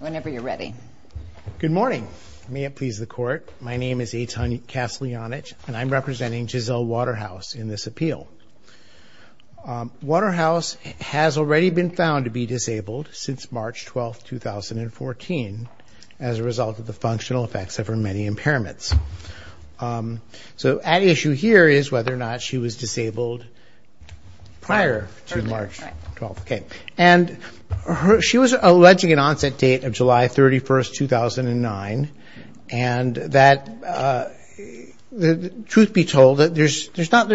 Whenever you're ready. Good morning. May it please the court. My name is Eitan Kaslianich and I'm representing Giselle Waterhouse in this appeal. Waterhouse has already been found to be disabled since March 12, 2014 as a result of the functional effects of her many impairments. So at issue here is whether or not she was disabled prior to March 12. And she was alleging an onset date of July 31, 2009 and truth be told, there's not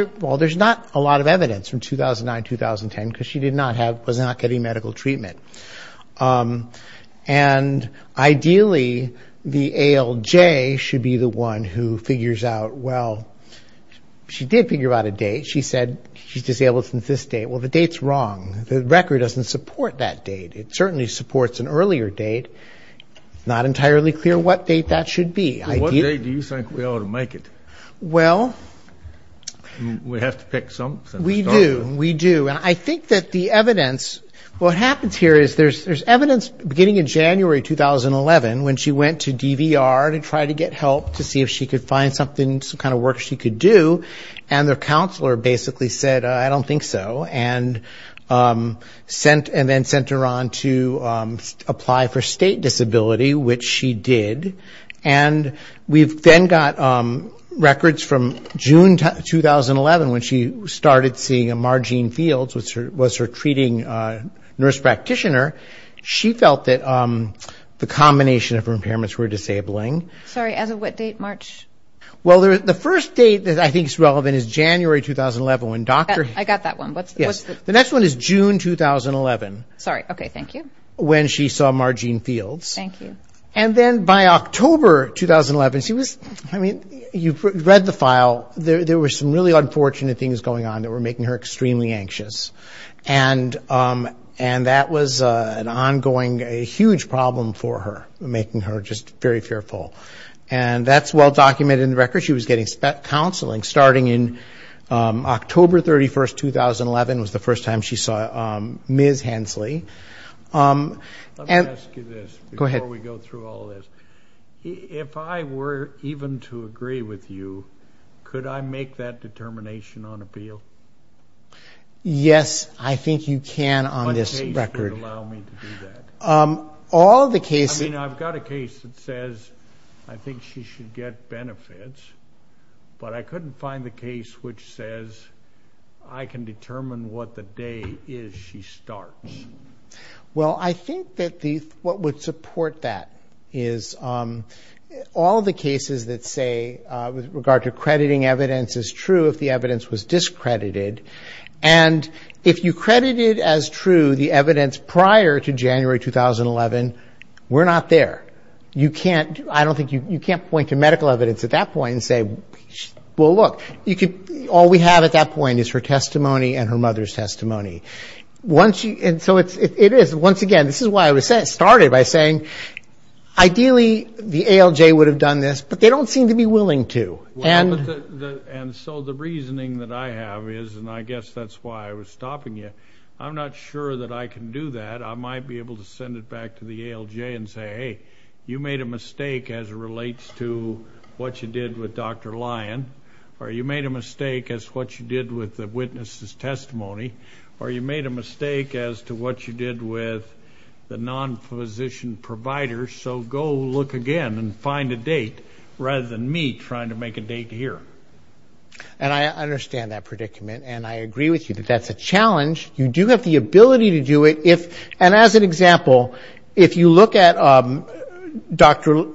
a lot of evidence from 2009-2010 because she was not getting medical treatment. And ideally, the ALJ should be the one who figures out, well, she did figure out a date. She said she's disabled since this date. Well, the date's wrong. The record doesn't support that date. It certainly supports an earlier date. It's not entirely clear what date that should be. What date do you think we ought to make it? Well... We have to pick something. We do. We do. And I think that the evidence, what happens here is there's evidence beginning in January 2011 when she went to DVR to try to get help to see if she could find something, some kind of work she could do. And their counselor basically said, I don't think so, and then sent her on to apply for state disability, which she did. And we've then got records from June 2011 when she started seeing a Marjean Fields, which was her treating nurse practitioner. She felt that the combination of her impairments were disabling. Sorry, as of what date, March? Well, the first date that I think is relevant is January 2011 when Dr. I got that one. Yes. The next one is June 2011. Sorry. Okay. Thank you. When she saw Marjean Fields. Thank you. And then by October 2011, she was, I mean, you've read the file. There were some really unfortunate things going on that were making her extremely anxious. And that was an ongoing, a huge problem for her, making her just very fearful. And that's well documented in the record. She was getting counseling starting in October 31, 2011 was the first time she saw Ms. Hensley. Let me ask you this. Go ahead. Before we go through all this. If I were even to agree with you, could I make that determination on appeal? Yes, I think you can on this record. What case would allow me to do that? All the cases. I mean, I've got a case that says I think she should get benefits, but I couldn't find the case which says I can determine what the day is she starts. Well, I think that what would support that is all the cases that say, with regard to crediting evidence as true if the evidence was discredited. And if you credited as true the evidence prior to January 2011, we're not there. You can't, I don't think, you can't point to medical evidence at that point and say, well, look, all we have at that point is her testimony and her mother's testimony. And so it is, once again, this is why I started by saying ideally the ALJ would have done this, but they don't seem to be willing to. And so the reasoning that I have is, and I guess that's why I was stopping you, I'm not sure that I can do that. I might be able to send it back to the ALJ and say, hey, you made a mistake as it relates to what you did with Dr. Lyon, or you made a mistake as to what you did with the witness's testimony, or you made a mistake as to what you did with the non-physician provider, so go look again and find a date rather than me trying to make a date here. And I understand that predicament, and I agree with you that that's a challenge. You do have the ability to do it if, and as an example, if you look at Dr.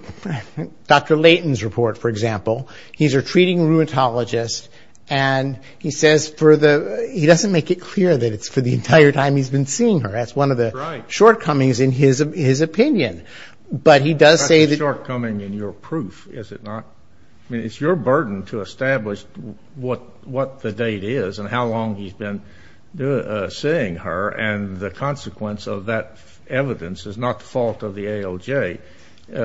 Layton's report, for example, he's a treating rheumatologist, and he says for the, he doesn't make it clear that it's for the entire time he's been seeing her. That's one of the shortcomings in his opinion. But he does say that. That's a shortcoming in your proof, is it not? I mean, it's your burden to establish what the date is and how long he's been seeing her, and the consequence of that evidence is not the fault of the ALJ. It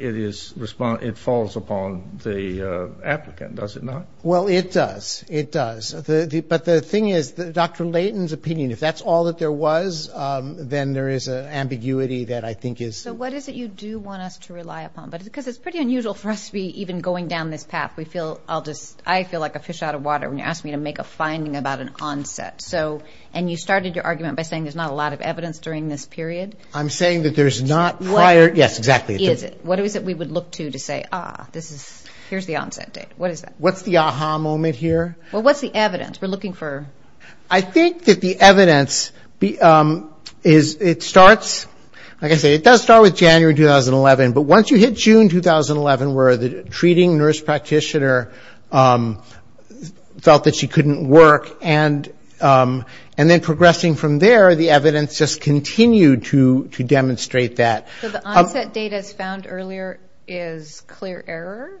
is, it falls upon the applicant, does it not? Well, it does. It does. But the thing is, Dr. Layton's opinion, if that's all that there was, then there is an ambiguity that I think is. So what is it you do want us to rely upon? Because it's pretty unusual for us to be even going down this path. We feel, I'll just, I feel like a fish out of water when you ask me to make a finding about an onset. And you started your argument by saying there's not a lot of evidence during this period. I'm saying that there's not prior, yes, exactly. Is it? What is it we would look to to say, ah, this is, here's the onset date. What is that? What's the ah-ha moment here? Well, what's the evidence? We're looking for. I think that the evidence is, it starts, like I say, it does start with January 2011. But once you hit June 2011, where the treating nurse practitioner felt that she couldn't work, and then progressing from there, the evidence just continued to demonstrate that. So the onset date as found earlier is clear error?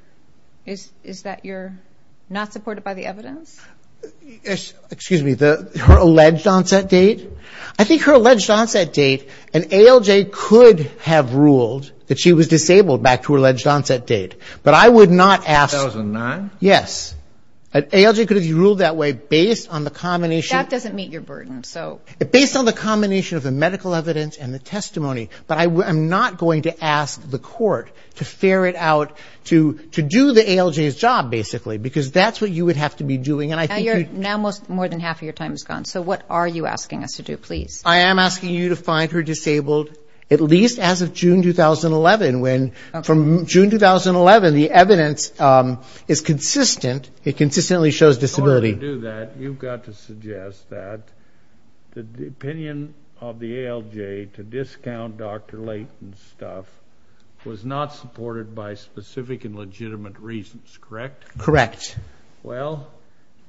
Excuse me, her alleged onset date? I think her alleged onset date, an ALJ could have ruled that she was disabled back to her alleged onset date. But I would not ask. 2009? Yes. An ALJ could have ruled that way based on the combination. That doesn't meet your burden, so. Based on the combination of the medical evidence and the testimony. But I'm not going to ask the court to ferret out, to do the ALJ's job, basically. Because that's what you would have to be doing. Now more than half of your time is gone. So what are you asking us to do, please? I am asking you to find her disabled, at least as of June 2011. From June 2011, the evidence is consistent. It consistently shows disability. In order to do that, you've got to suggest that the opinion of the ALJ to discount Dr. Layton's stuff was not supported by specific and legitimate reasons, correct? Correct. Well,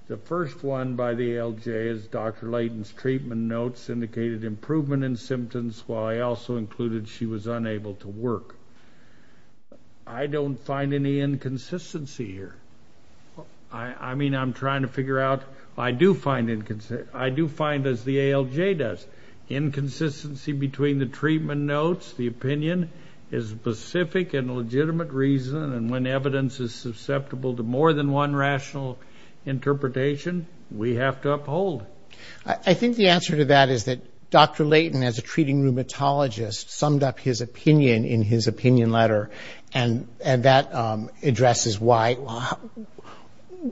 the first one by the ALJ is Dr. Layton's treatment notes indicated improvement in symptoms, while I also included she was unable to work. I don't find any inconsistency here. I mean, I'm trying to figure out, I do find, as the ALJ does, inconsistency between the treatment notes, the opinion is specific and legitimate reason, and when evidence is susceptible to more than one rational interpretation, we have to uphold. I think the answer to that is that Dr. Layton, as a treating rheumatologist, summed up his opinion in his opinion letter, and that addresses why.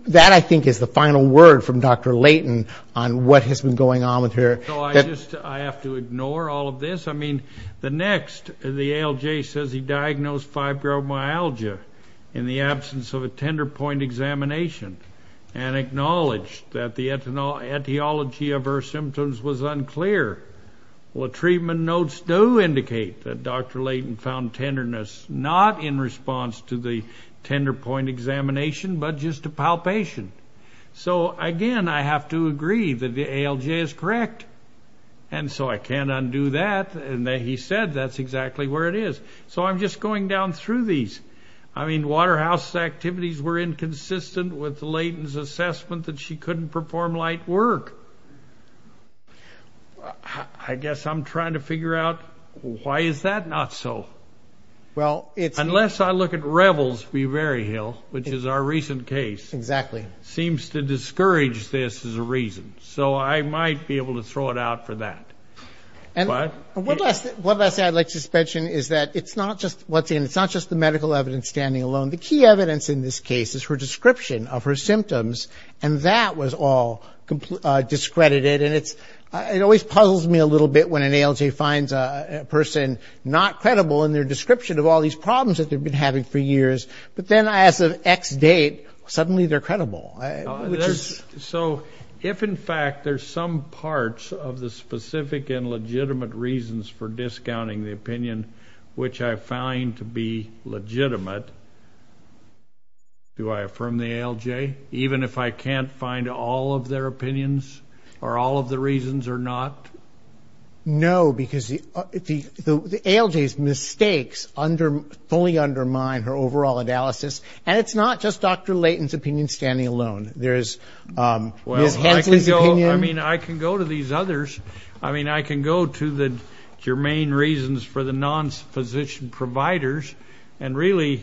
That, I think, is the final word from Dr. Layton on what has been going on with her. So I have to ignore all of this? I mean, the next, the ALJ says he diagnosed fibromyalgia in the absence of a tender point examination and acknowledged that the etiology of her symptoms was unclear. Well, the treatment notes do indicate that Dr. Layton found tenderness, not in response to the tender point examination, but just to palpation. So, again, I have to agree that the ALJ is correct. And so I can't undo that, and he said that's exactly where it is. So I'm just going down through these. I mean, Waterhouse's activities were inconsistent with Layton's assessment that she couldn't perform light work. I guess I'm trying to figure out why is that not so? Unless I look at Revels v. Berryhill, which is our recent case. Exactly. Seems to discourage this as a reason. So I might be able to throw it out for that. What? What I'd like to mention is that it's not just what's in it. It's not just the medical evidence standing alone. The key evidence in this case is her description of her symptoms, and that was all discredited. And it always puzzles me a little bit when an ALJ finds a person not credible in their description of all these problems that they've been having for years, but then as of X date, suddenly they're credible. So if, in fact, there's some parts of the specific and legitimate reasons for discounting the opinion which I find to be legitimate, do I affirm the ALJ, even if I can't find all of their opinions or all of the reasons or not? No, because the ALJ's mistakes fully undermine her overall analysis, and it's not just Dr. Layton's opinion standing alone. There's Ms. Hensley's opinion. Well, I can go to these others. I mean, I can go to the germane reasons for the non-physician providers, and really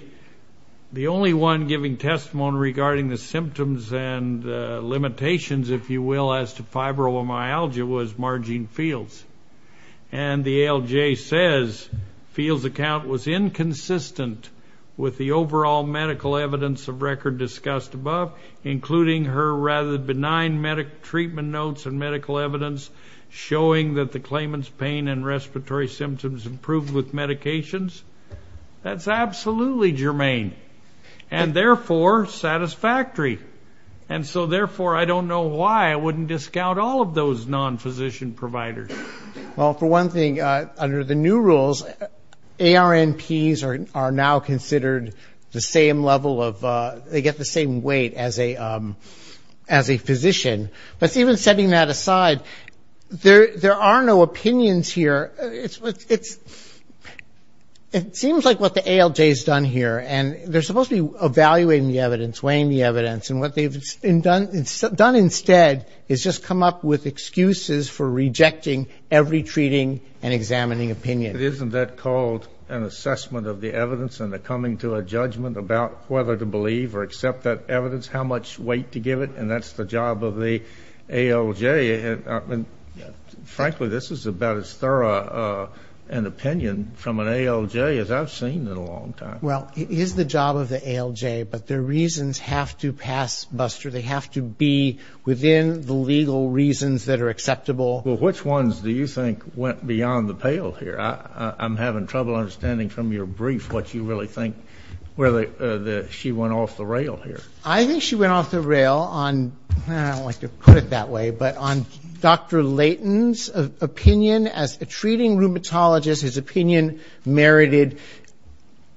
the only one giving testimony regarding the symptoms and limitations, if you will, as to fibromyalgia was Marjean Fields. And the ALJ says Fields' account was inconsistent with the overall medical evidence of record discussed above, including her rather benign medical treatment notes and medical evidence showing that the claimant's pain and respiratory symptoms improved with medications. That's absolutely germane, and therefore satisfactory. And so, therefore, I don't know why I wouldn't discount all of those non-physician providers. Well, for one thing, under the new rules, ARNPs are now considered the same level of they get the same weight as a physician. But even setting that aside, there are no opinions here. It seems like what the ALJ has done here, and they're supposed to be evaluating the evidence, weighing the evidence, and what they've done instead is just come up with excuses for rejecting every treating and examining opinion. Isn't that called an assessment of the evidence and the coming to a judgment about whether to believe or accept that evidence, how much weight to give it? And that's the job of the ALJ. Frankly, this is about as thorough an opinion from an ALJ as I've seen in a long time. Well, it is the job of the ALJ, but their reasons have to pass Buster. They have to be within the legal reasons that are acceptable. Well, which ones do you think went beyond the pale here? I'm having trouble understanding from your brief what you really think, whether she went off the rail here. I think she went off the rail on, I don't like to put it that way, but on Dr. Layton's opinion as a treating rheumatologist. His opinion merited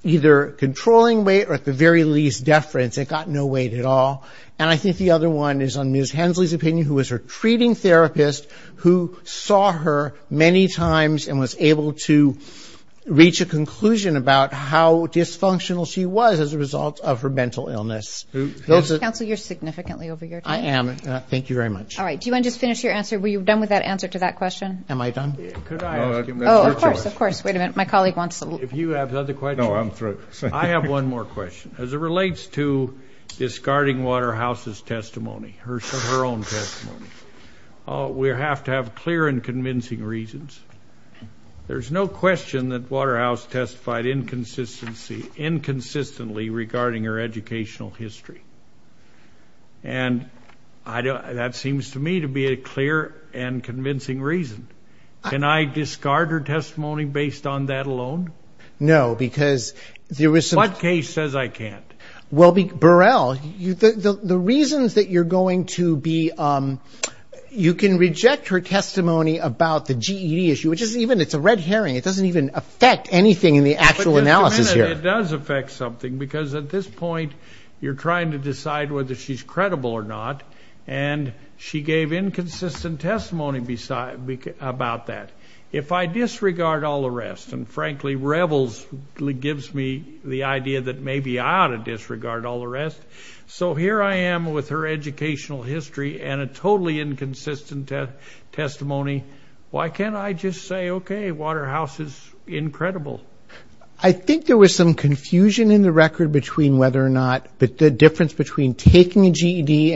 either controlling weight or, at the very least, deference. It got no weight at all. And I think the other one is on Ms. Hensley's opinion, who was her treating therapist, who saw her many times and was able to reach a conclusion about how dysfunctional she was as a result of her mental illness. Counsel, you're significantly over your time. I am. Thank you very much. All right. Do you want to just finish your answer? Were you done with that answer to that question? Am I done? Could I ask? Oh, of course, of course. Wait a minute. My colleague wants to. If you have other questions. No, I'm through. I have one more question. As it relates to discarding Waterhouse's testimony, her own testimony, we have to have clear and convincing reasons. There's no question that Waterhouse testified inconsistently regarding her educational history. And that seems to me to be a clear and convincing reason. Can I discard her testimony based on that alone? No, because there is some – What case says I can't? Well, Burrell, the reasons that you're going to be – you can reject her testimony about the GED issue, which is even – it's a red herring. It doesn't even affect anything in the actual analysis here. It does affect something because at this point, you're trying to decide whether she's credible or not, and she gave inconsistent testimony about that. If I disregard all the rest, and frankly, Revels gives me the idea that maybe I ought to disregard all the rest. So here I am with her educational history and a totally inconsistent testimony. Why can't I just say, okay, Waterhouse is incredible? I think there was some confusion in the record between whether or not – the difference between taking a GED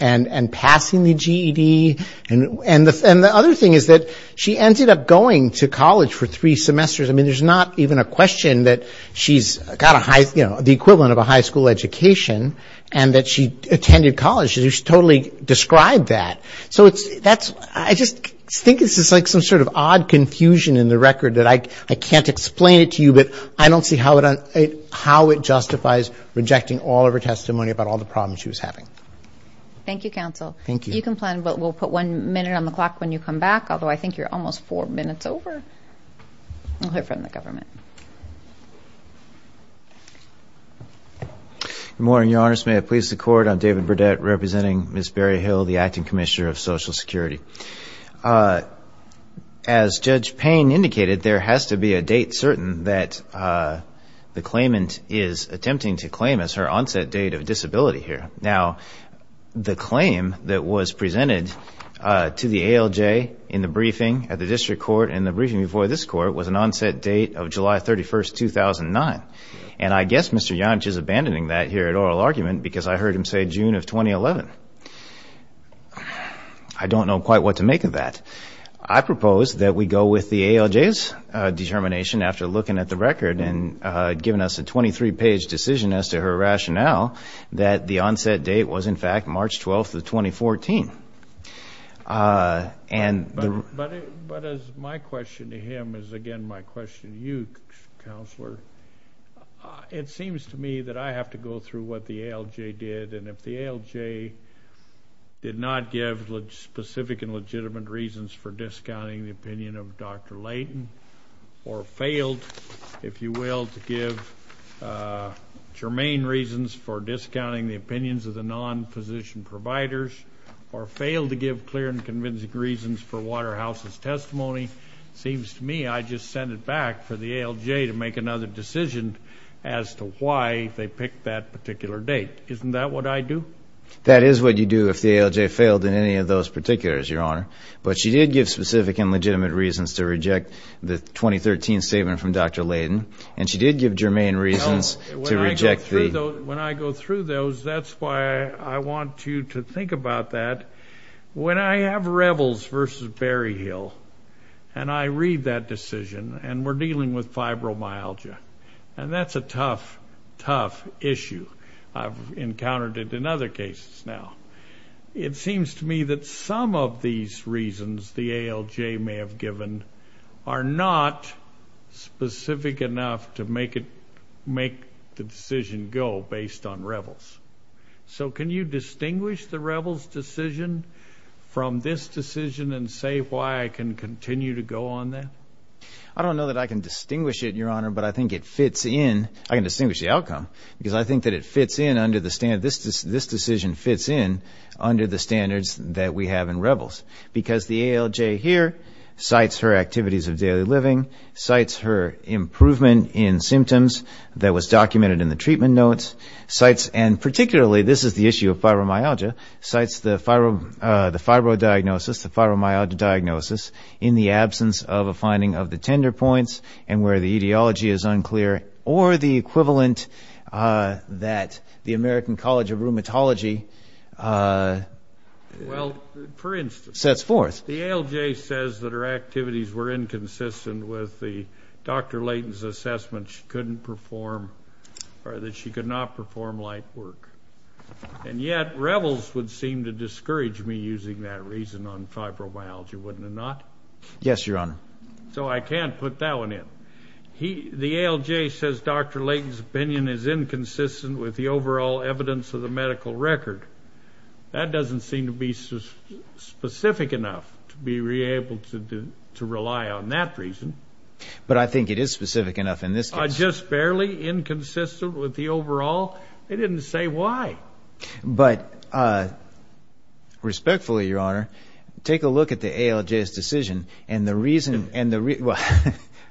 and passing the GED. And the other thing is that she ended up going to college for three semesters. I mean, there's not even a question that she's got a high – you know, the equivalent of a high school education and that she attended college. She totally described that. So it's – that's – I just think it's like some sort of odd confusion in the record that I can't explain it to you, but I don't see how it justifies rejecting all of her testimony about all the problems she was having. Thank you, counsel. Thank you. You can plan, but we'll put one minute on the clock when you come back, although I think you're almost four minutes over. We'll hear from the government. Good morning, Your Honor. First, may it please the Court, I'm David Burdett representing Ms. Barry Hill, the acting commissioner of Social Security. As Judge Payne indicated, there has to be a date certain that the claimant is attempting to claim as her onset date of disability here. Now, the claim that was presented to the ALJ in the briefing at the district court and the briefing before this court was an onset date of July 31, 2009. And I guess Mr. Yonch is abandoning that here at oral argument because I heard him say June of 2011. I don't know quite what to make of that. I propose that we go with the ALJ's determination after looking at the record and giving us a 23-page decision as to her rationale that the onset date was, in fact, March 12, 2014. But as my question to him is, again, my question to you, Counselor, it seems to me that I have to go through what the ALJ did. And if the ALJ did not give specific and legitimate reasons for discounting the opinion of Dr. Layton or failed, if you will, to give germane reasons for discounting the opinions of the non-physician providers or failed to give clear and convincing reasons for Waterhouse's testimony, it seems to me I just send it back for the ALJ to make another decision as to why they picked that particular date. Isn't that what I do? That is what you do if the ALJ failed in any of those particulars, Your Honor. But she did give specific and legitimate reasons to reject the 2013 statement from Dr. Layton, and she did give germane reasons to reject the— When I have Revels versus Berryhill, and I read that decision, and we're dealing with fibromyalgia, and that's a tough, tough issue. I've encountered it in other cases now. It seems to me that some of these reasons the ALJ may have given are not specific enough to make the decision go based on Revels. So can you distinguish the Revels decision from this decision and say why I can continue to go on that? I don't know that I can distinguish it, Your Honor, but I think it fits in. I can distinguish the outcome because I think that it fits in under the standard. This decision fits in under the standards that we have in Revels because the ALJ here cites her activities of daily living, cites her improvement in symptoms that was documented in the treatment notes, cites—and particularly, this is the issue of fibromyalgia—cites the fibro diagnosis, the fibromyalgia diagnosis in the absence of a finding of the tender points and where the etiology is unclear, or the equivalent that the American College of Rheumatology sets forth. Well, for instance, the ALJ says that her activities were inconsistent with Dr. Layton's assessment that she couldn't perform or that she could not perform light work. And yet Revels would seem to discourage me using that reason on fibromyalgia, wouldn't it not? Yes, Your Honor. So I can't put that one in. The ALJ says Dr. Layton's opinion is inconsistent with the overall evidence of the medical record. That doesn't seem to be specific enough to be able to rely on that reason. But I think it is specific enough in this case. Just barely inconsistent with the overall? They didn't say why. But respectfully, Your Honor, take a look at the ALJ's decision. And the reason—well,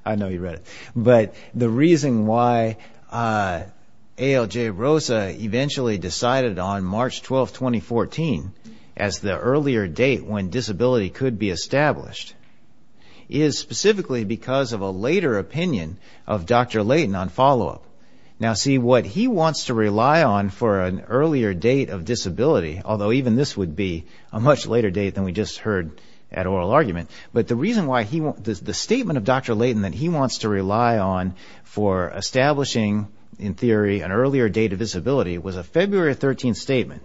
I know you read it. But the reason why ALJ-ROSA eventually decided on March 12, 2014, as the earlier date when disability could be established, is specifically because of a later opinion of Dr. Layton on follow-up. Now, see, what he wants to rely on for an earlier date of disability, although even this would be a much later date than we just heard at oral argument, but the reason why he—the statement of Dr. Layton that he wants to rely on for establishing, in theory, an earlier date of disability, was a February 13 statement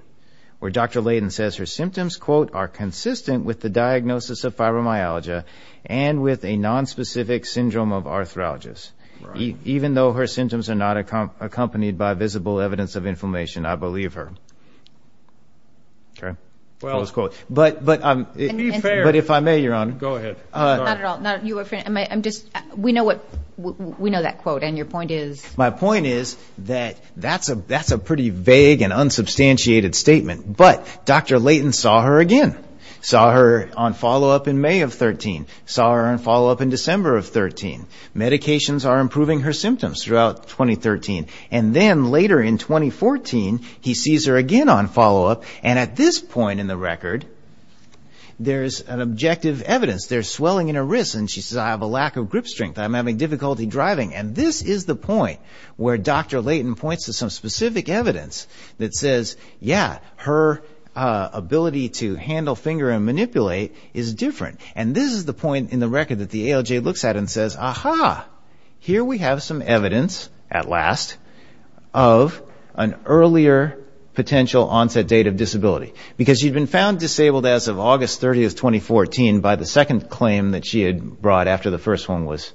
where Dr. Layton says her symptoms, quote, are consistent with the diagnosis of fibromyalgia and with a nonspecific syndrome of arthralgias. Even though her symptoms are not accompanied by visible evidence of inflammation, I believe her. But if I may, Your Honor— Not at all. We know that quote, and your point is? My point is that that's a pretty vague and unsubstantiated statement. But Dr. Layton saw her again, saw her on follow-up in May of 13, saw her on follow-up in December of 13. Medications are improving her symptoms throughout 2013. And then later in 2014, he sees her again on follow-up, and at this point in the record, there's an objective evidence. There's swelling in her wrists, and she says, I have a lack of grip strength, I'm having difficulty driving. And this is the point where Dr. Layton points to some specific evidence that says, yeah, her ability to handle, finger, and manipulate is different. And this is the point in the record that the ALJ looks at and says, aha, here we have some evidence, at last, of an earlier potential onset date of disability. Because she'd been found disabled as of August 30, 2014, by the second claim that she had brought after the first one was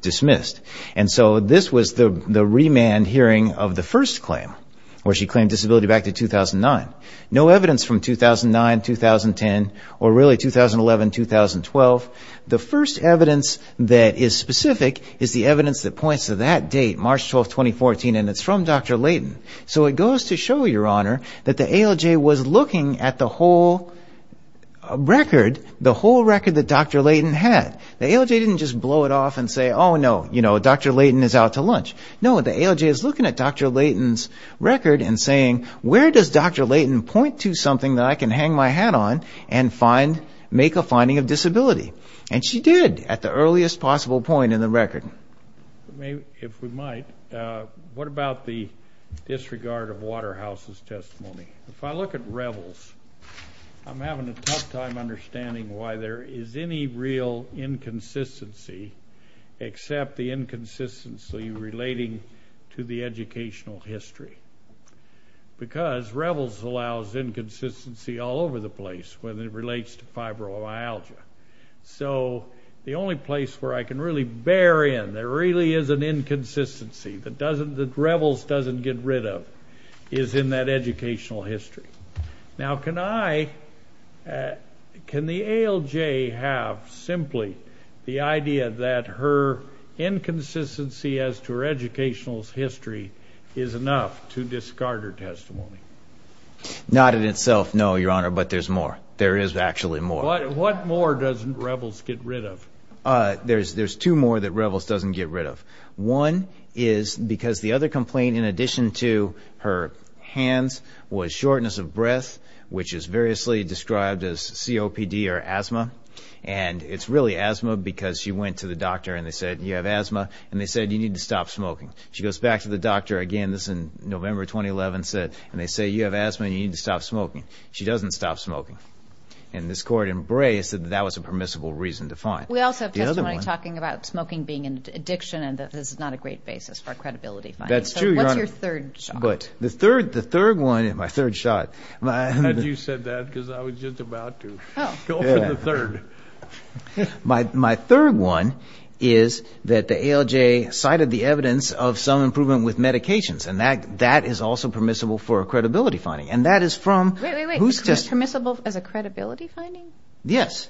dismissed. And so this was the remand hearing of the first claim, where she claimed disability back to 2009. No evidence from 2009, 2010, or really 2011, 2012. The first evidence that is specific is the evidence that points to that date, March 12, 2014, and it's from Dr. Layton. So it goes to show, Your Honor, that the ALJ was looking at the whole record, the whole record that Dr. Layton had. The ALJ didn't just blow it off and say, oh, no, Dr. Layton is out to lunch. No, the ALJ is looking at Dr. Layton's record and saying, where does Dr. Layton point to something that I can hang my hat on and make a finding of disability? And she did, at the earliest possible point in the record. If we might, what about the disregard of Waterhouse's testimony? If I look at Revels, I'm having a tough time understanding why there is any real inconsistency except the inconsistency relating to the educational history. Because Revels allows inconsistency all over the place when it relates to fibromyalgia. So the only place where I can really bear in there really is an inconsistency that Revels doesn't get rid of is in that educational history. Now, can the ALJ have simply the idea that her inconsistency as to her educational history is enough to discard her testimony? Not in itself, no, Your Honor, but there's more. There is actually more. What more doesn't Revels get rid of? There's two more that Revels doesn't get rid of. One is because the other complaint, in addition to her hands, was shortness of breath, which is variously described as COPD or asthma. And it's really asthma because she went to the doctor and they said, you have asthma, and they said you need to stop smoking. She goes back to the doctor again, this is November 2011, and they say you have asthma and you need to stop smoking. She doesn't stop smoking. And this Court embraced that that was a permissible reason to fine. We also have testimony talking about smoking being an addiction and that this is not a great basis for credibility finding. That's true, Your Honor. So what's your third shock? But the third one, my third shock. How did you say that? Because I was just about to go for the third. My third one is that the ALJ cited the evidence of some improvement with medications, and that is also permissible for credibility finding. And that is from who's just – Wait, wait, wait. Permissible as a credibility finding? Yes.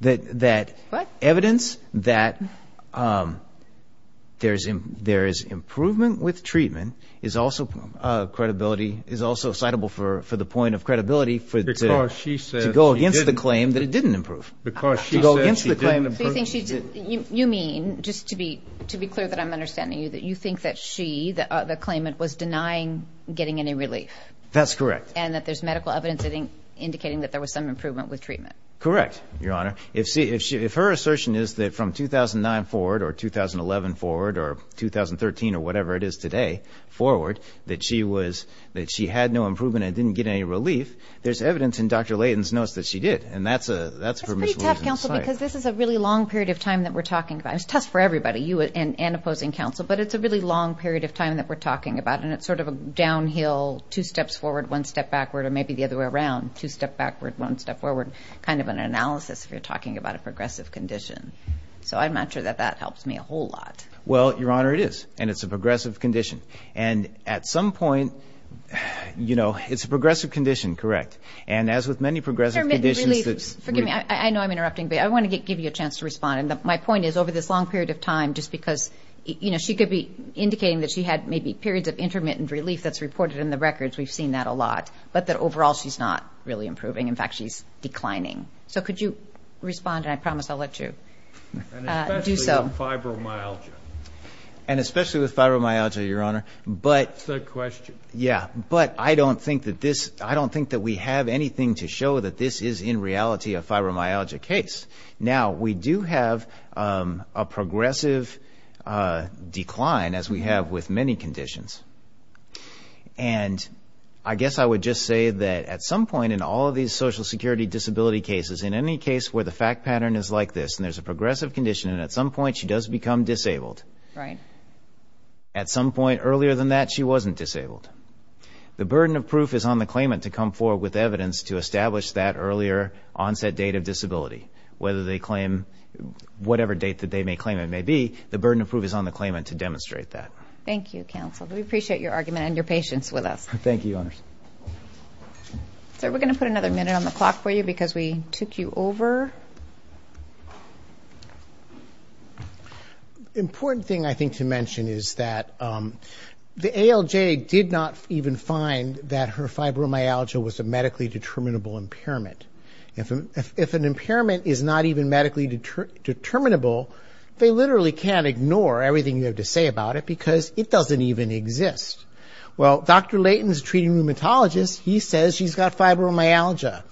What? Evidence that there is improvement with treatment is also credibility, is also citable for the point of credibility to go against the claim that it didn't improve. Because she said she didn't improve. You mean, just to be clear that I'm understanding you, that you think that she, the claimant, was denying getting any relief. That's correct. And that there's medical evidence indicating that there was some improvement with treatment. Correct, Your Honor. If her assertion is that from 2009 forward or 2011 forward or 2013 or whatever it is today forward, that she had no improvement and didn't get any relief, there's evidence in Dr. Layton's notes that she did. And that's a permissible reason to cite. It's pretty tough, counsel, because this is a really long period of time that we're talking about. It's tough for everybody, you and opposing counsel, but it's a really long period of time that we're talking about, and it's sort of a downhill, two steps forward, one step backward, or maybe the other way around, two step backward, one step forward, kind of an analysis if you're talking about a progressive condition. So I'm not sure that that helps me a whole lot. Well, Your Honor, it is, and it's a progressive condition. And at some point, you know, it's a progressive condition, correct. And as with many progressive conditions that's – Intermittent relief. Forgive me. I know I'm interrupting, but I want to give you a chance to respond. And my point is, over this long period of time, just because, you know, she could be indicating that she had maybe periods of intermittent relief that's reported in the records. We've seen that a lot. But that overall she's not really improving. In fact, she's declining. So could you respond, and I promise I'll let you do so. And especially with fibromyalgia. And especially with fibromyalgia, Your Honor. That's a good question. Yeah, but I don't think that this – I don't think that we have anything to show that this is in reality a fibromyalgia case. Now, we do have a progressive decline, as we have with many conditions. And I guess I would just say that at some point in all of these Social Security disability cases, in any case where the fact pattern is like this, and there's a progressive condition, and at some point she does become disabled. Right. At some point earlier than that, she wasn't disabled. The burden of proof is on the claimant to come forward with evidence to establish that earlier onset date of disability. Whether they claim – whatever date that they may claim it may be, the burden of proof is on the claimant to demonstrate that. Thank you, counsel. We appreciate your argument and your patience with us. Thank you, Your Honors. Sir, we're going to put another minute on the clock for you because we took you over. The important thing, I think, to mention is that the ALJ did not even find that her fibromyalgia was a medically determinable impairment. If an impairment is not even medically determinable, they literally can't ignore everything you have to say about it because it doesn't even exist. Well, Dr. Leighton is a treating rheumatologist. He says she's got fibromyalgia.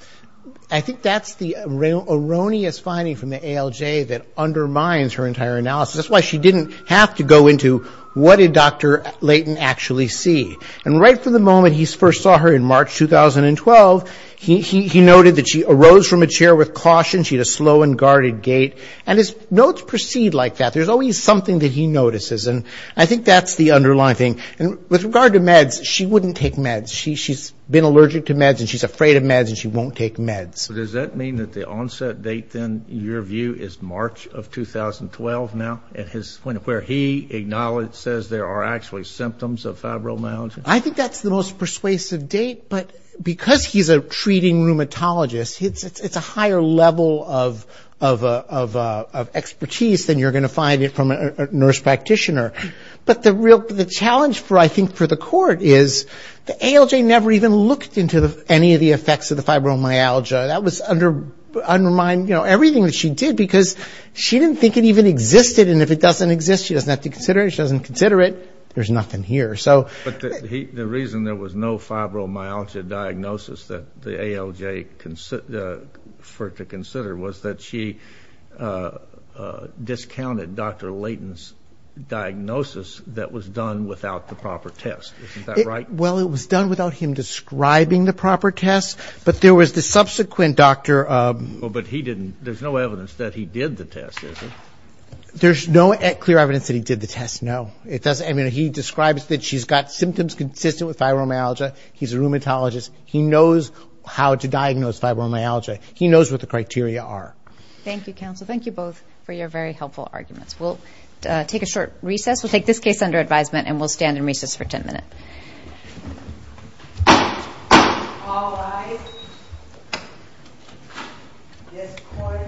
I think that's the erroneous finding from the ALJ that undermines her entire analysis. That's why she didn't have to go into what did Dr. Leighton actually see. And right from the moment he first saw her in March 2012, he noted that she arose from a chair with caution. She had a slow and guarded gait. And his notes proceed like that. There's always something that he notices, and I think that's the underlying thing. And with regard to meds, she wouldn't take meds. She's been allergic to meds, and she's afraid of meds, and she won't take meds. Does that mean that the onset date, then, in your view, is March of 2012 now, where he acknowledges there are actually symptoms of fibromyalgia? I think that's the most persuasive date, but because he's a treating rheumatologist, it's a higher level of expertise than you're going to find from a nurse practitioner. But the challenge, I think, for the court is the ALJ never even looked into any of the effects of the fibromyalgia. That was undermining everything that she did because she didn't think it even existed. And if it doesn't exist, she doesn't have to consider it. If she doesn't consider it, there's nothing here. But the reason there was no fibromyalgia diagnosis that the ALJ referred to consider was that she discounted Dr. Leighton's diagnosis that was done without the proper test. Isn't that right? Well, it was done without him describing the proper test, but there was the subsequent doctor. But he didn't. There's no evidence that he did the test, is there? There's no clear evidence that he did the test, no. He describes that she's got symptoms consistent with fibromyalgia. He's a rheumatologist. He knows how to diagnose fibromyalgia. He knows what the criteria are. Thank you, counsel. Thank you both for your very helpful arguments. We'll take a short recess. We'll take this case under advisement, and we'll stand in recess for 10 minutes. All rise. This court stands adjourned.